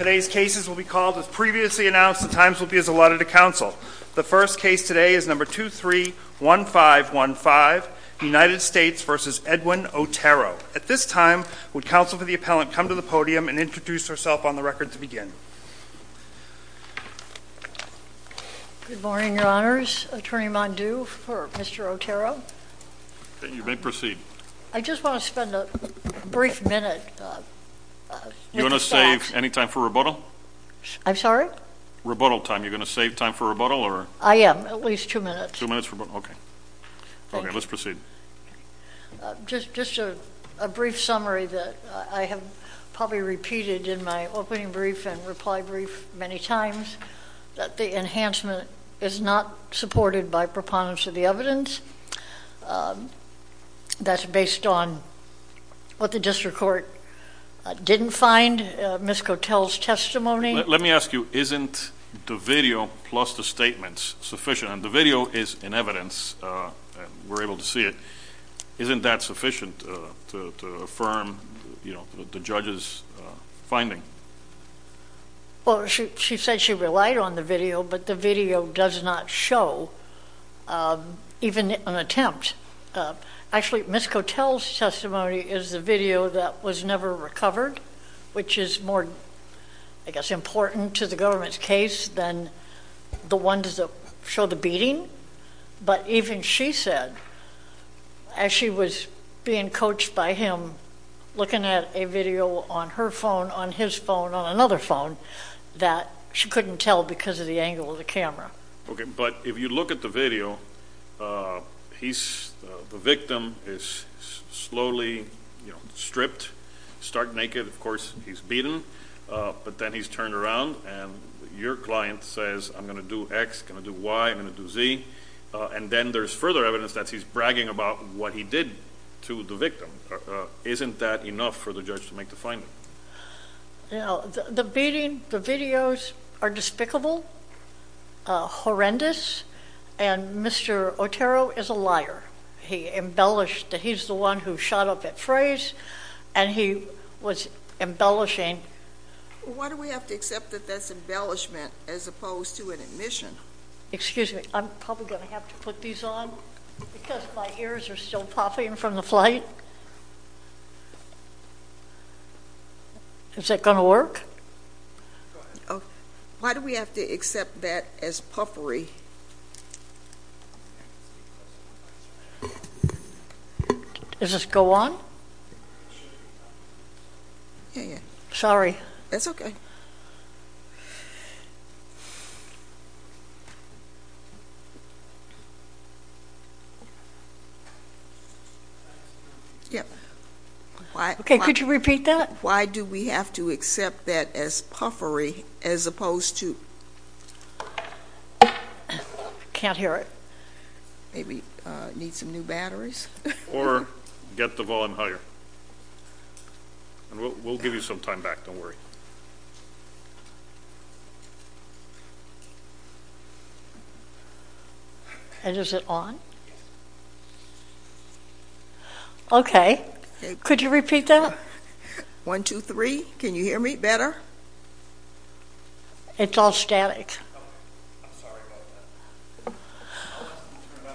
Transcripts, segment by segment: Today's cases will be called, as previously announced, the times will be as allotted to The first case today is No. 231515, United States v. Edwin Otero. At this time, would counsel for the appellant come to the podium and introduce herself on the record to begin? Good morning, Your Honors. Attorney Mondew for Mr. Otero. You may proceed. I just want to spend a brief minute. You want to save any time for rebuttal? I'm sorry? Rebuttal time. You're going to save time for rebuttal? I am. At least two minutes. Two minutes for rebuttal. Okay. Okay. Let's proceed. Just a brief summary that I have probably repeated in my opening brief and reply brief many times, that the enhancement is not supported by preponderance of the evidence. That's based on what the district court didn't find. And Ms. Cotel's testimony? Let me ask you, isn't the video plus the statements sufficient? And the video is in evidence, and we're able to see it. Isn't that sufficient to affirm, you know, the judge's finding? Well, she said she relied on the video, but the video does not show even an attempt. Actually, Ms. Cotel's testimony is the video that was never recovered, which is more, I guess, important to the government's case than the ones that show the beating. But even she said, as she was being coached by him, looking at a video on her phone, on his phone, on another phone, that she couldn't tell because of the angle of the camera. Okay, but if you look at the video, he's, the victim is slowly, you know, stripped, start naked. Of course, he's beaten, but then he's turned around and your client says, I'm going to do X, going to do Y, I'm going to do Z. And then there's further evidence that he's bragging about what he did to the victim. Isn't that enough for the judge to make the finding? You know, the beating, the videos are despicable, horrendous, and Mr. Otero is a liar. He embellished, he's the one who shot up that phrase, and he was embellishing. Why do we have to accept that that's embellishment as opposed to an admission? Excuse me, I'm probably going to have to put these on because my ears are still popping from the flight. Is that going to work? Why do we have to accept that as puffery? Does this go on? Yeah, yeah. Sorry. That's okay. Yep. Okay, could you repeat that? Why do we have to accept that as puffery as opposed to... Can't hear it. Maybe need some new batteries? Or get the volume higher. And we'll give you some time back, don't worry. And is it on? Okay. Could you repeat that? One, two, three. Can you hear me better? It's all static. Okay. I'm sorry about that. Can you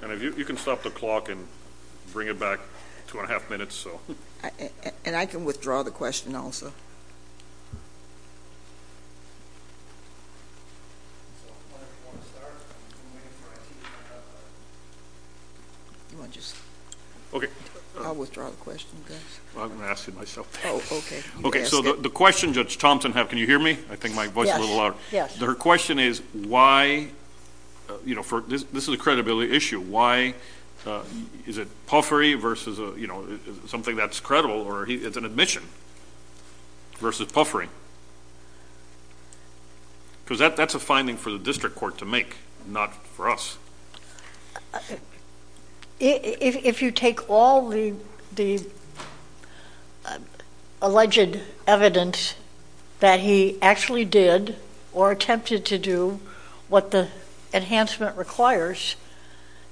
turn it up? You can stop the clock and bring it back two and a half minutes. And I can withdraw the question also. Okay. I'll withdraw the question, Gus. I'm going to ask it myself. Oh, okay. Okay, so the question Judge Thompson has, can you hear me? I think my voice is a little loud. Yes, yes. Her question is why, you know, this is a credibility issue, why is it puffery versus, you know, something that's credible or it's an admission versus puffery? Because that's a finding for the district court to make, not for us. If you take all the alleged evidence that he actually did or attempted to do, what the enhancement requires,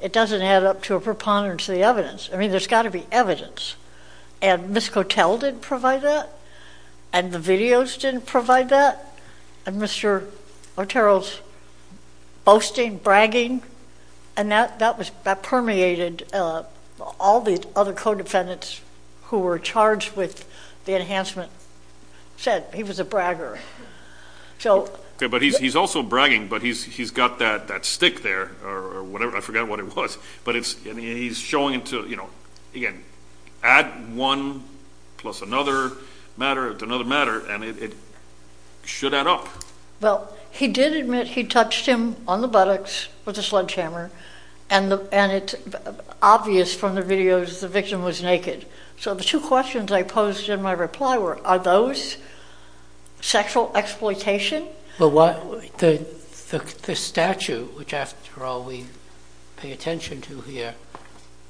it doesn't add up to a preponderance of the evidence. I mean, there's got to be evidence, and Ms. Cotel didn't provide that, and the videos didn't provide that, and Mr. Otero's boasting, bragging, and that permeated all the other co-defendants who were charged with the enhancement said he was a bragger. Okay, but he's also bragging, but he's got that stick there or whatever, I forgot what it was, and he's showing it to, you know, again, add one plus another matter to another matter, and it should add up. Well, he did admit he touched him on the buttocks with a sledgehammer, and it's obvious from the videos the victim was naked. So the two questions I posed in my reply were, are those sexual exploitation? The statute, which after all we pay attention to here,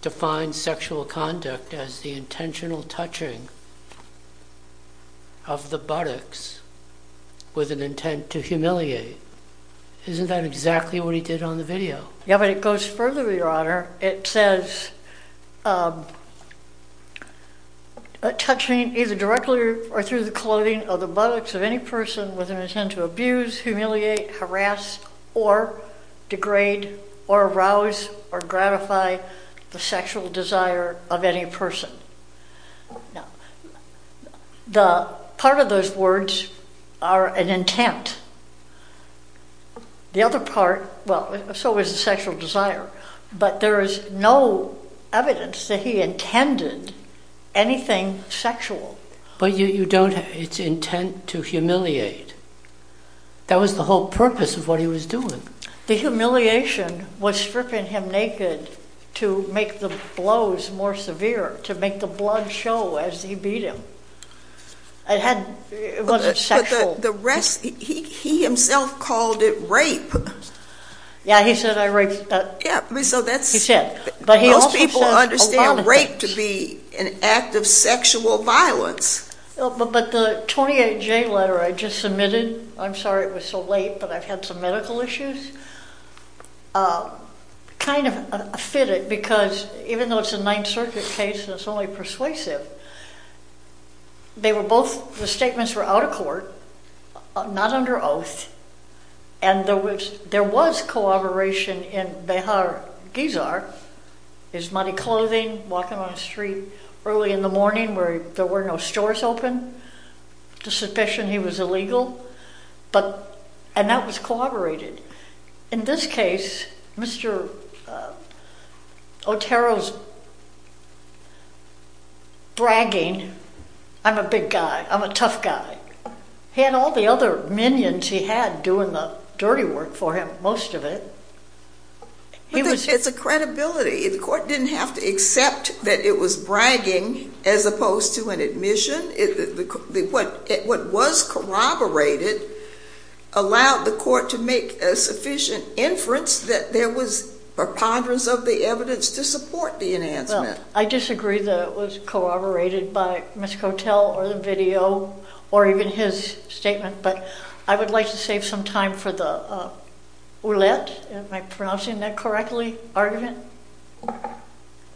defines sexual conduct as the intentional touching of the buttocks with an intent to humiliate. Isn't that exactly what he did on the video? Yeah, but it goes further, Your Honor. It says, touching either directly or through the clothing of the buttocks of any person with an intent to abuse, humiliate, harass, or degrade, or arouse, or gratify the sexual desire of any person. Now, part of those words are an intent. The other part, well, so is the sexual desire, but there is no evidence that he intended anything sexual. But you don't, it's intent to humiliate. That was the whole purpose of what he was doing. The humiliation was stripping him naked to make the blows more severe, to make the blood show as he beat him. It had, it wasn't sexual. But the rest, he himself called it rape. Yeah, he said I raped, he said. But most people understand rape to be an act of sexual violence. But the 28J letter I just submitted, I'm sorry it was so late but I've had some medical issues, kind of fit it because even though it's a Ninth Circuit case and it's only persuasive, they were both, the statements were out of court, not under oath. And there was collaboration in Behar Gizar, his muddy clothing, walking on the street early in the morning where there were no stores open, the suspicion he was illegal. But, and that was collaborated. In this case, Mr. Otero's bragging, I'm a big guy, I'm a tough guy. He had all the other minions he had doing the dirty work for him, most of it. It's a credibility. The court didn't have to accept that it was bragging as opposed to an admission. What was corroborated allowed the court to make a sufficient inference that there was preponderance of the evidence to support the enhancement. I disagree that it was corroborated by Mr. Kotel or the video or even his statement, but I would like to save some time for the Ouellette, am I pronouncing that correctly, argument?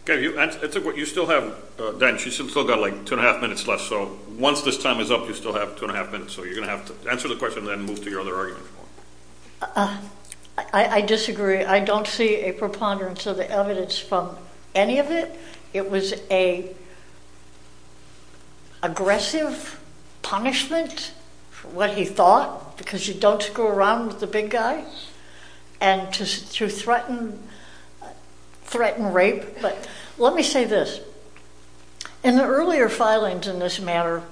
Okay, you still have, Diane, she's still got like two and a half minutes left, so once this time is up, you still have two and a half minutes, so you're going to have to answer the question and then move to your other argument. I disagree. I don't see a preponderance of the evidence from any of it. It was an aggressive punishment for what he thought, because you don't screw around with the big guy. And to threaten, threaten rape, but let me say this. In the earlier filings in this matter,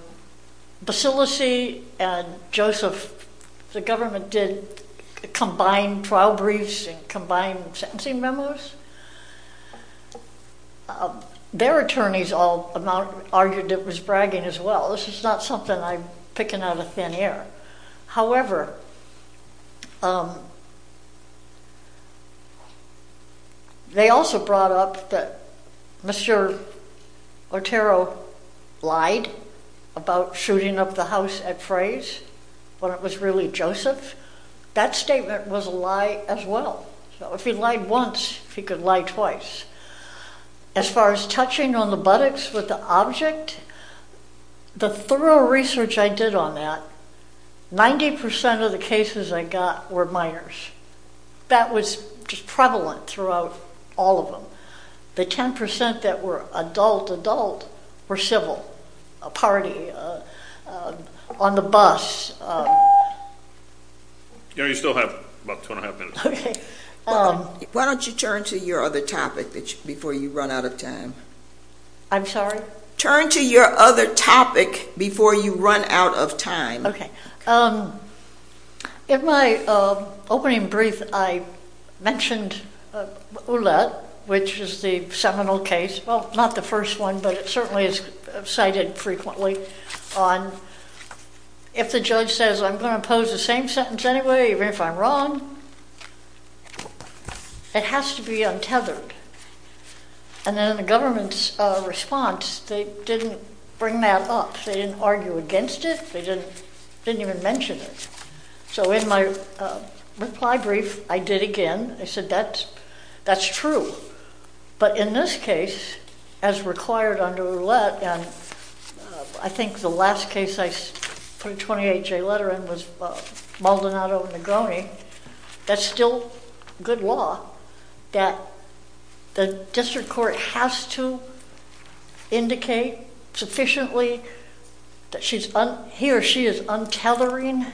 Basilice and Joseph, the government, did combined trial briefs and combined sentencing memos. Their attorneys all argued it was bragging as well. This is not something I'm picking out of thin air. However, they also brought up that Mr. Otero lied about shooting up the house at Frey's, when it was really Joseph. That statement was a lie as well. If he lied once, he could lie twice. As far as touching on the buttocks with the object, the thorough research I did on that, 90% of the cases I got were minors. That was prevalent throughout all of them. The 10% that were adult-adult were civil, a party, on the bus. You still have about two and a half minutes. Why don't you turn to your other topic before you run out of time. I'm sorry? Turn to your other topic before you run out of time. In my opening brief, I mentioned Ouellette, which is the seminal case. Well, not the first one, but it certainly is cited frequently. If the judge says, I'm going to impose the same sentence anyway, even if I'm wrong, it has to be untethered. In the government's response, they didn't bring that up. They didn't argue against it. They didn't even mention it. In my reply brief, I did again. I said, that's true. But in this case, as required under Ouellette, I think the last case I put a 28-J letter in was Maldonado v. Negroni. That's still good law. That the district court has to indicate sufficiently that he or she is untethering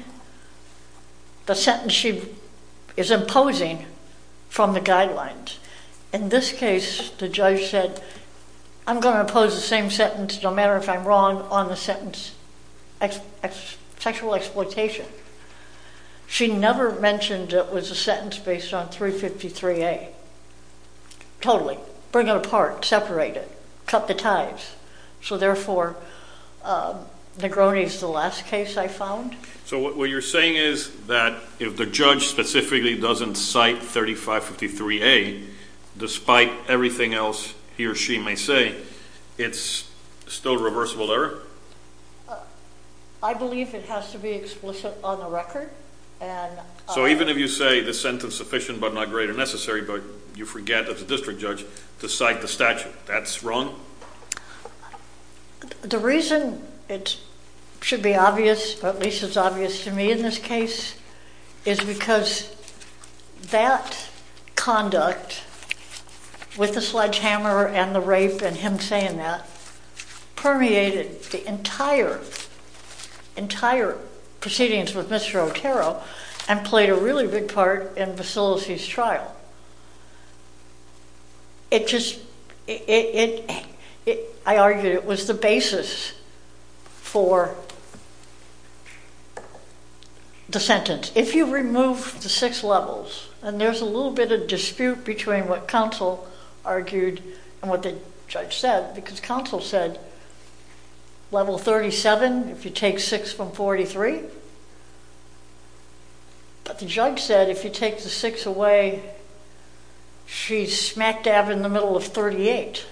the sentence she is imposing from the guidelines. In this case, the judge said, I'm going to impose the same sentence, no matter if I'm wrong, on the sentence sexual exploitation. She never mentioned it was a sentence based on 353A. Totally. Bring it apart. Separate it. Cut the ties. So therefore, Negroni is the last case I found. So what you're saying is that if the judge specifically doesn't cite 3553A, despite everything else he or she may say, it's still a reversible error? I believe it has to be explicit on the record. So even if you say the sentence sufficient but not great or necessary, but you forget, as a district judge, to cite the statute. That's wrong? The reason it should be obvious, but at least it's obvious to me in this case, is because that conduct, with the sledgehammer and the rape and him saying that, permeated the entire proceedings with Mr. Otero and played a really big part in Vassilisi's trial. I argued it was the basis for the sentence. If you remove the six levels, and there's a little bit of dispute between what counsel argued and what the judge said, because counsel said level 37 if you take six from 43, but the judge said if you take the six away, she's smack dab in the middle of 38.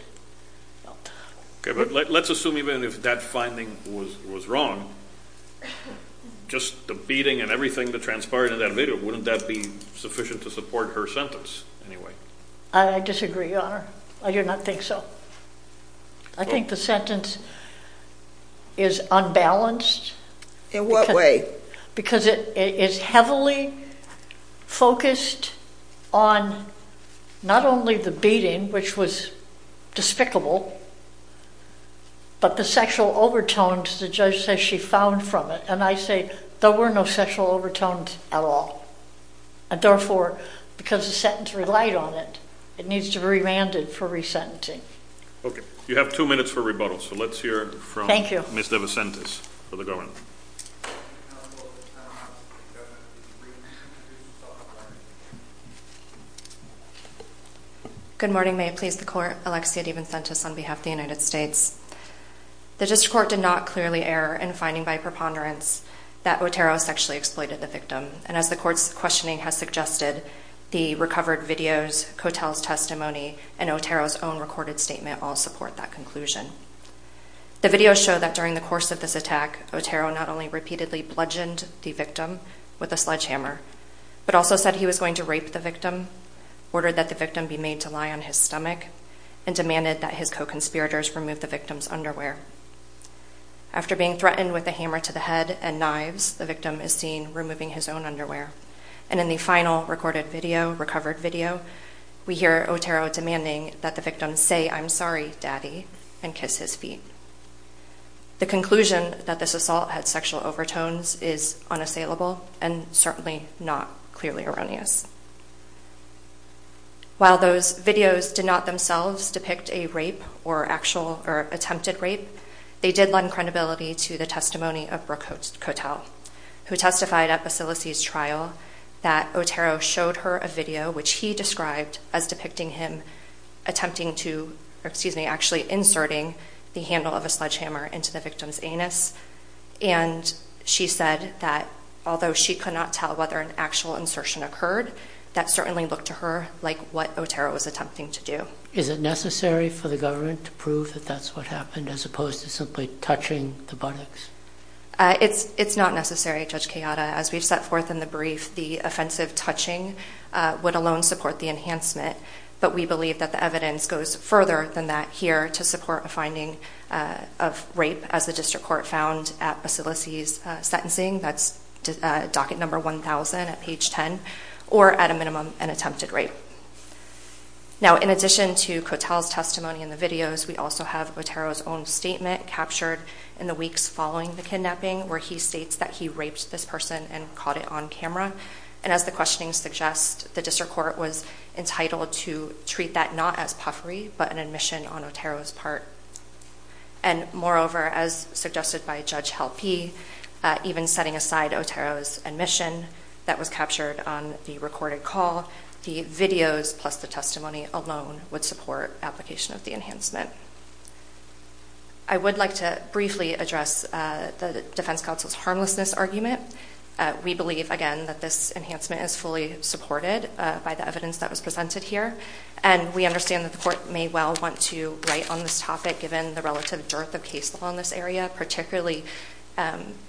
Okay, but let's assume even if that finding was wrong, just the beating and everything that transpired in that video, wouldn't that be sufficient to support her sentence anyway? I disagree, Your Honor. I do not think so. I think the sentence is unbalanced. In what way? Because it is heavily focused on not only the beating, which was despicable, but the sexual overtones the judge says she found from it. And I say there were no sexual overtones at all. And therefore, because the sentence relied on it, it needs to be remanded for resentencing. Okay, you have two minutes for rebuttal. So let's hear from Ms. DeVincentis for the government. Good morning. May it please the Court, Alexia DeVincentis on behalf of the United States. The district court did not clearly err in finding by preponderance that Otero sexually exploited the victim. And as the court's questioning has suggested, the recovered videos, Kotel's testimony, and Otero's own recorded statement all support that conclusion. The videos show that during the course of this attack, Otero not only repeatedly bludgeoned the victim with a sledgehammer, but also said he was going to rape the victim, ordered that the victim be made to lie on his stomach, and demanded that his co-conspirators remove the victim's underwear. After being threatened with a hammer to the head and knives, the victim is seen removing his own underwear. And in the final recorded video, recovered video, we hear Otero demanding that the victim say, I'm sorry, daddy, and kiss his feet. The conclusion that this assault had sexual overtones is unassailable and certainly not clearly erroneous. While those videos did not themselves depict a rape or actual attempted rape, they did lend credibility to the testimony of Brooke Kotel, who testified at Basile's trial that Otero showed her a video which he described as depicting him attempting to, excuse me, actually inserting the handle of a sledgehammer into the victim's anus. And she said that although she could not tell whether an actual insertion occurred, that certainly looked to her like what Otero was attempting to do. Is it necessary for the government to prove that that's what happened, as opposed to simply touching the buttocks? It's not necessary, Judge Kayada. As we've set forth in the brief, the offensive touching would alone support the enhancement. But we believe that the evidence goes further than that here to support a finding of rape, as the district court found at Basile's sentencing. That's docket number 1000 at page 10. Or at a minimum, an attempted rape. Now, in addition to Kotel's testimony in the videos, we also have Otero's own statement captured in the weeks following the kidnapping, where he states that he raped this person and caught it on camera. And as the questioning suggests, the district court was entitled to treat that not as puffery, but an admission on Otero's part. And moreover, as suggested by Judge Halpe, even setting aside Otero's admission that was captured on the recorded call, the videos plus the testimony alone would support application of the enhancement. I would like to briefly address the defense counsel's harmlessness argument. We believe, again, that this enhancement is fully supported by the evidence that was presented here. And we understand that the court may well want to write on this topic, given the relative dearth of cases on this area, particularly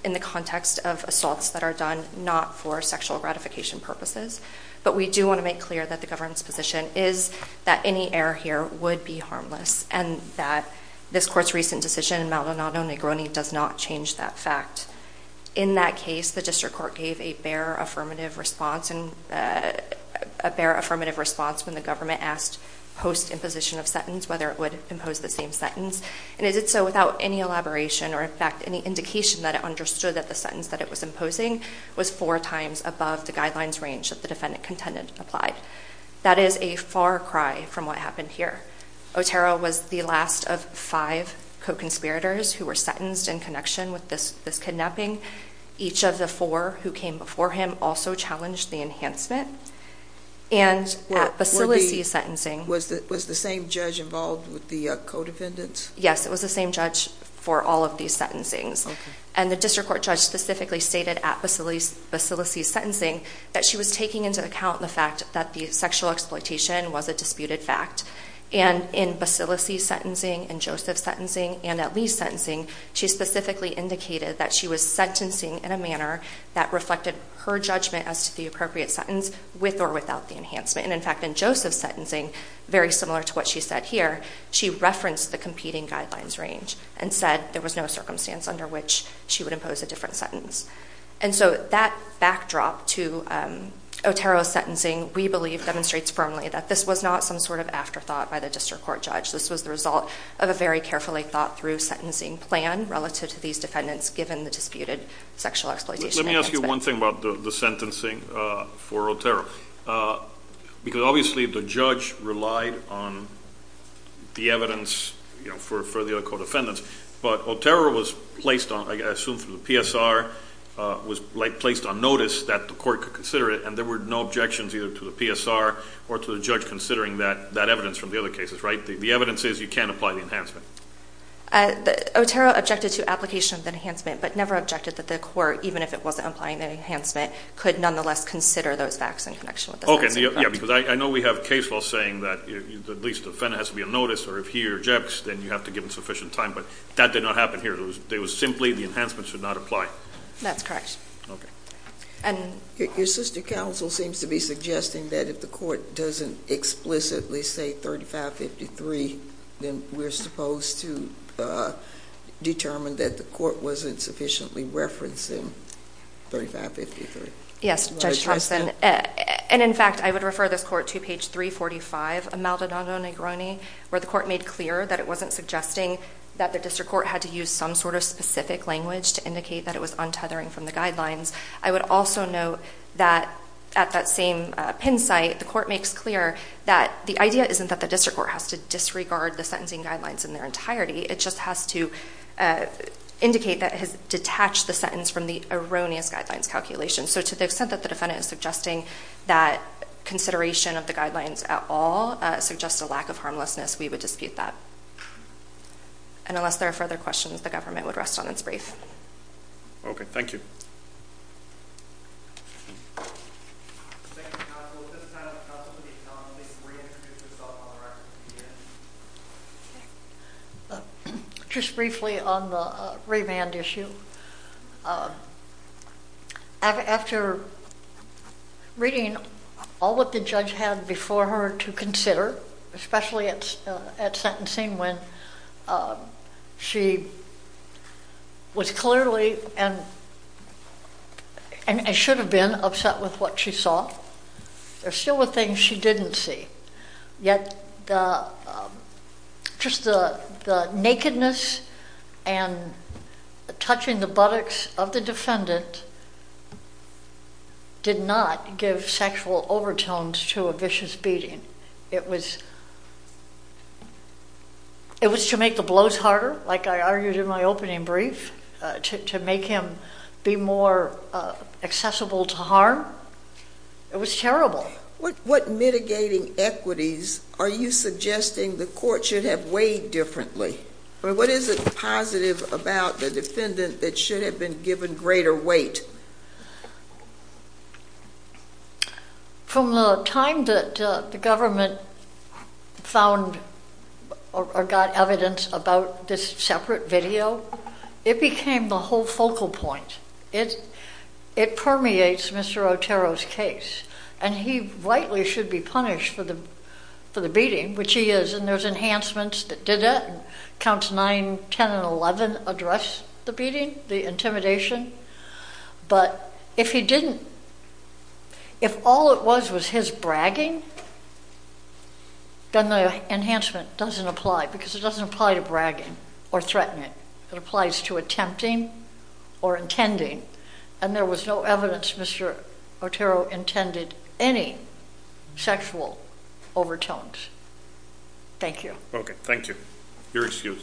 in the context of assaults that are done not for sexual gratification purposes. But we do want to make clear that the government's position is that any error here would be harmless, and that this court's recent decision in Maldonado Negroni does not change that fact. In that case, the district court gave a bare affirmative response when the government asked post-imposition of sentence whether it would impose the same sentence. And it did so without any elaboration or, in fact, any indication that it understood that the sentence that it was imposing was four times above the guidelines range that the defendant contended applied. That is a far cry from what happened here. Otero was the last of five co-conspirators who were sentenced in connection with this kidnapping. Each of the four who came before him also challenged the enhancement. Was the same judge involved with the co-defendants? Yes, it was the same judge for all of these sentencings. And the district court judge specifically stated at Basile's sentencing that she was taking into account the fact that the sexual exploitation was a disputed fact. And in Basile's sentencing, in Joseph's sentencing, and at Lee's sentencing, she specifically indicated that she was sentencing in a manner that reflected her judgment as to the appropriate sentence with or without the enhancement. And, in fact, in Joseph's sentencing, very similar to what she said here, she referenced the competing guidelines range and said there was no circumstance under which she would impose a different sentence. And so that backdrop to Otero's sentencing, we believe, demonstrates firmly that this was not some sort of afterthought by the district court judge. This was the result of a very carefully thought-through sentencing plan relative to these defendants given the disputed sexual exploitation enhancement. Let me ask you one thing about the sentencing for Otero. Because, obviously, the judge relied on the evidence for the other co-defendants, but Otero was placed on, I assume, through the PSR, was placed on notice that the court could consider it, and there were no objections either to the PSR or to the judge considering that evidence from the other cases, right? The evidence is you can't apply the enhancement. Otero objected to application of the enhancement but never objected that the court, even if it wasn't applying the enhancement, could nonetheless consider those facts in connection with the sentencing plan. Okay. Yeah, because I know we have case laws saying that at least the defendant has to be on notice or if he rejects, then you have to give him sufficient time, but that did not happen here. It was simply the enhancement should not apply. That's correct. Okay. Your sister counsel seems to be suggesting that if the court doesn't explicitly say 3553, then we're supposed to determine that the court wasn't sufficiently referencing 3553. Yes, Judge Thompson, and in fact, I would refer this court to page 345 of Maldonado-Negroni where the court made clear that it wasn't suggesting that the district court had to use some sort of specific language to indicate that it was untethering from the guidelines. I would also note that at that same pin site, the court makes clear that the idea isn't that the district court has to disregard the sentencing guidelines in their entirety. It just has to indicate that it has detached the sentence from the erroneous guidelines calculation. So to the extent that the defendant is suggesting that consideration of the guidelines at all suggests a lack of harmlessness, we would dispute that. And unless there are further questions, the government would rest on its brief. Okay. Thank you. Thank you, counsel. At this time, I would like to ask counsel to at least reintroduce herself on the record. Just briefly on the remand issue. After reading all that the judge had before her to consider, especially at sentencing when she was clearly and should have been upset with what she saw, there are still things she didn't see. Yet just the nakedness and touching the buttocks of the defendant did not give sexual overtones to a vicious beating. It was to make the blows harder, like I argued in my opening brief, to make him be more accessible to harm. It was terrible. What mitigating equities are you suggesting the court should have weighed differently? What is it positive about the defendant that should have been given greater weight? From the time that the government found or got evidence about this separate video, it became the whole focal point. It permeates Mr. Otero's case. And he rightly should be punished for the beating, which he is, and there's enhancements that did that. Counts 9, 10, and 11 address the beating, the intimidation. But if he didn't, if all it was was his bragging, then the enhancement doesn't apply because it doesn't apply to bragging or threatening. It applies to attempting or intending. And there was no evidence Mr. Otero intended any sexual overtones. Thank you. Okay, thank you. You're excused.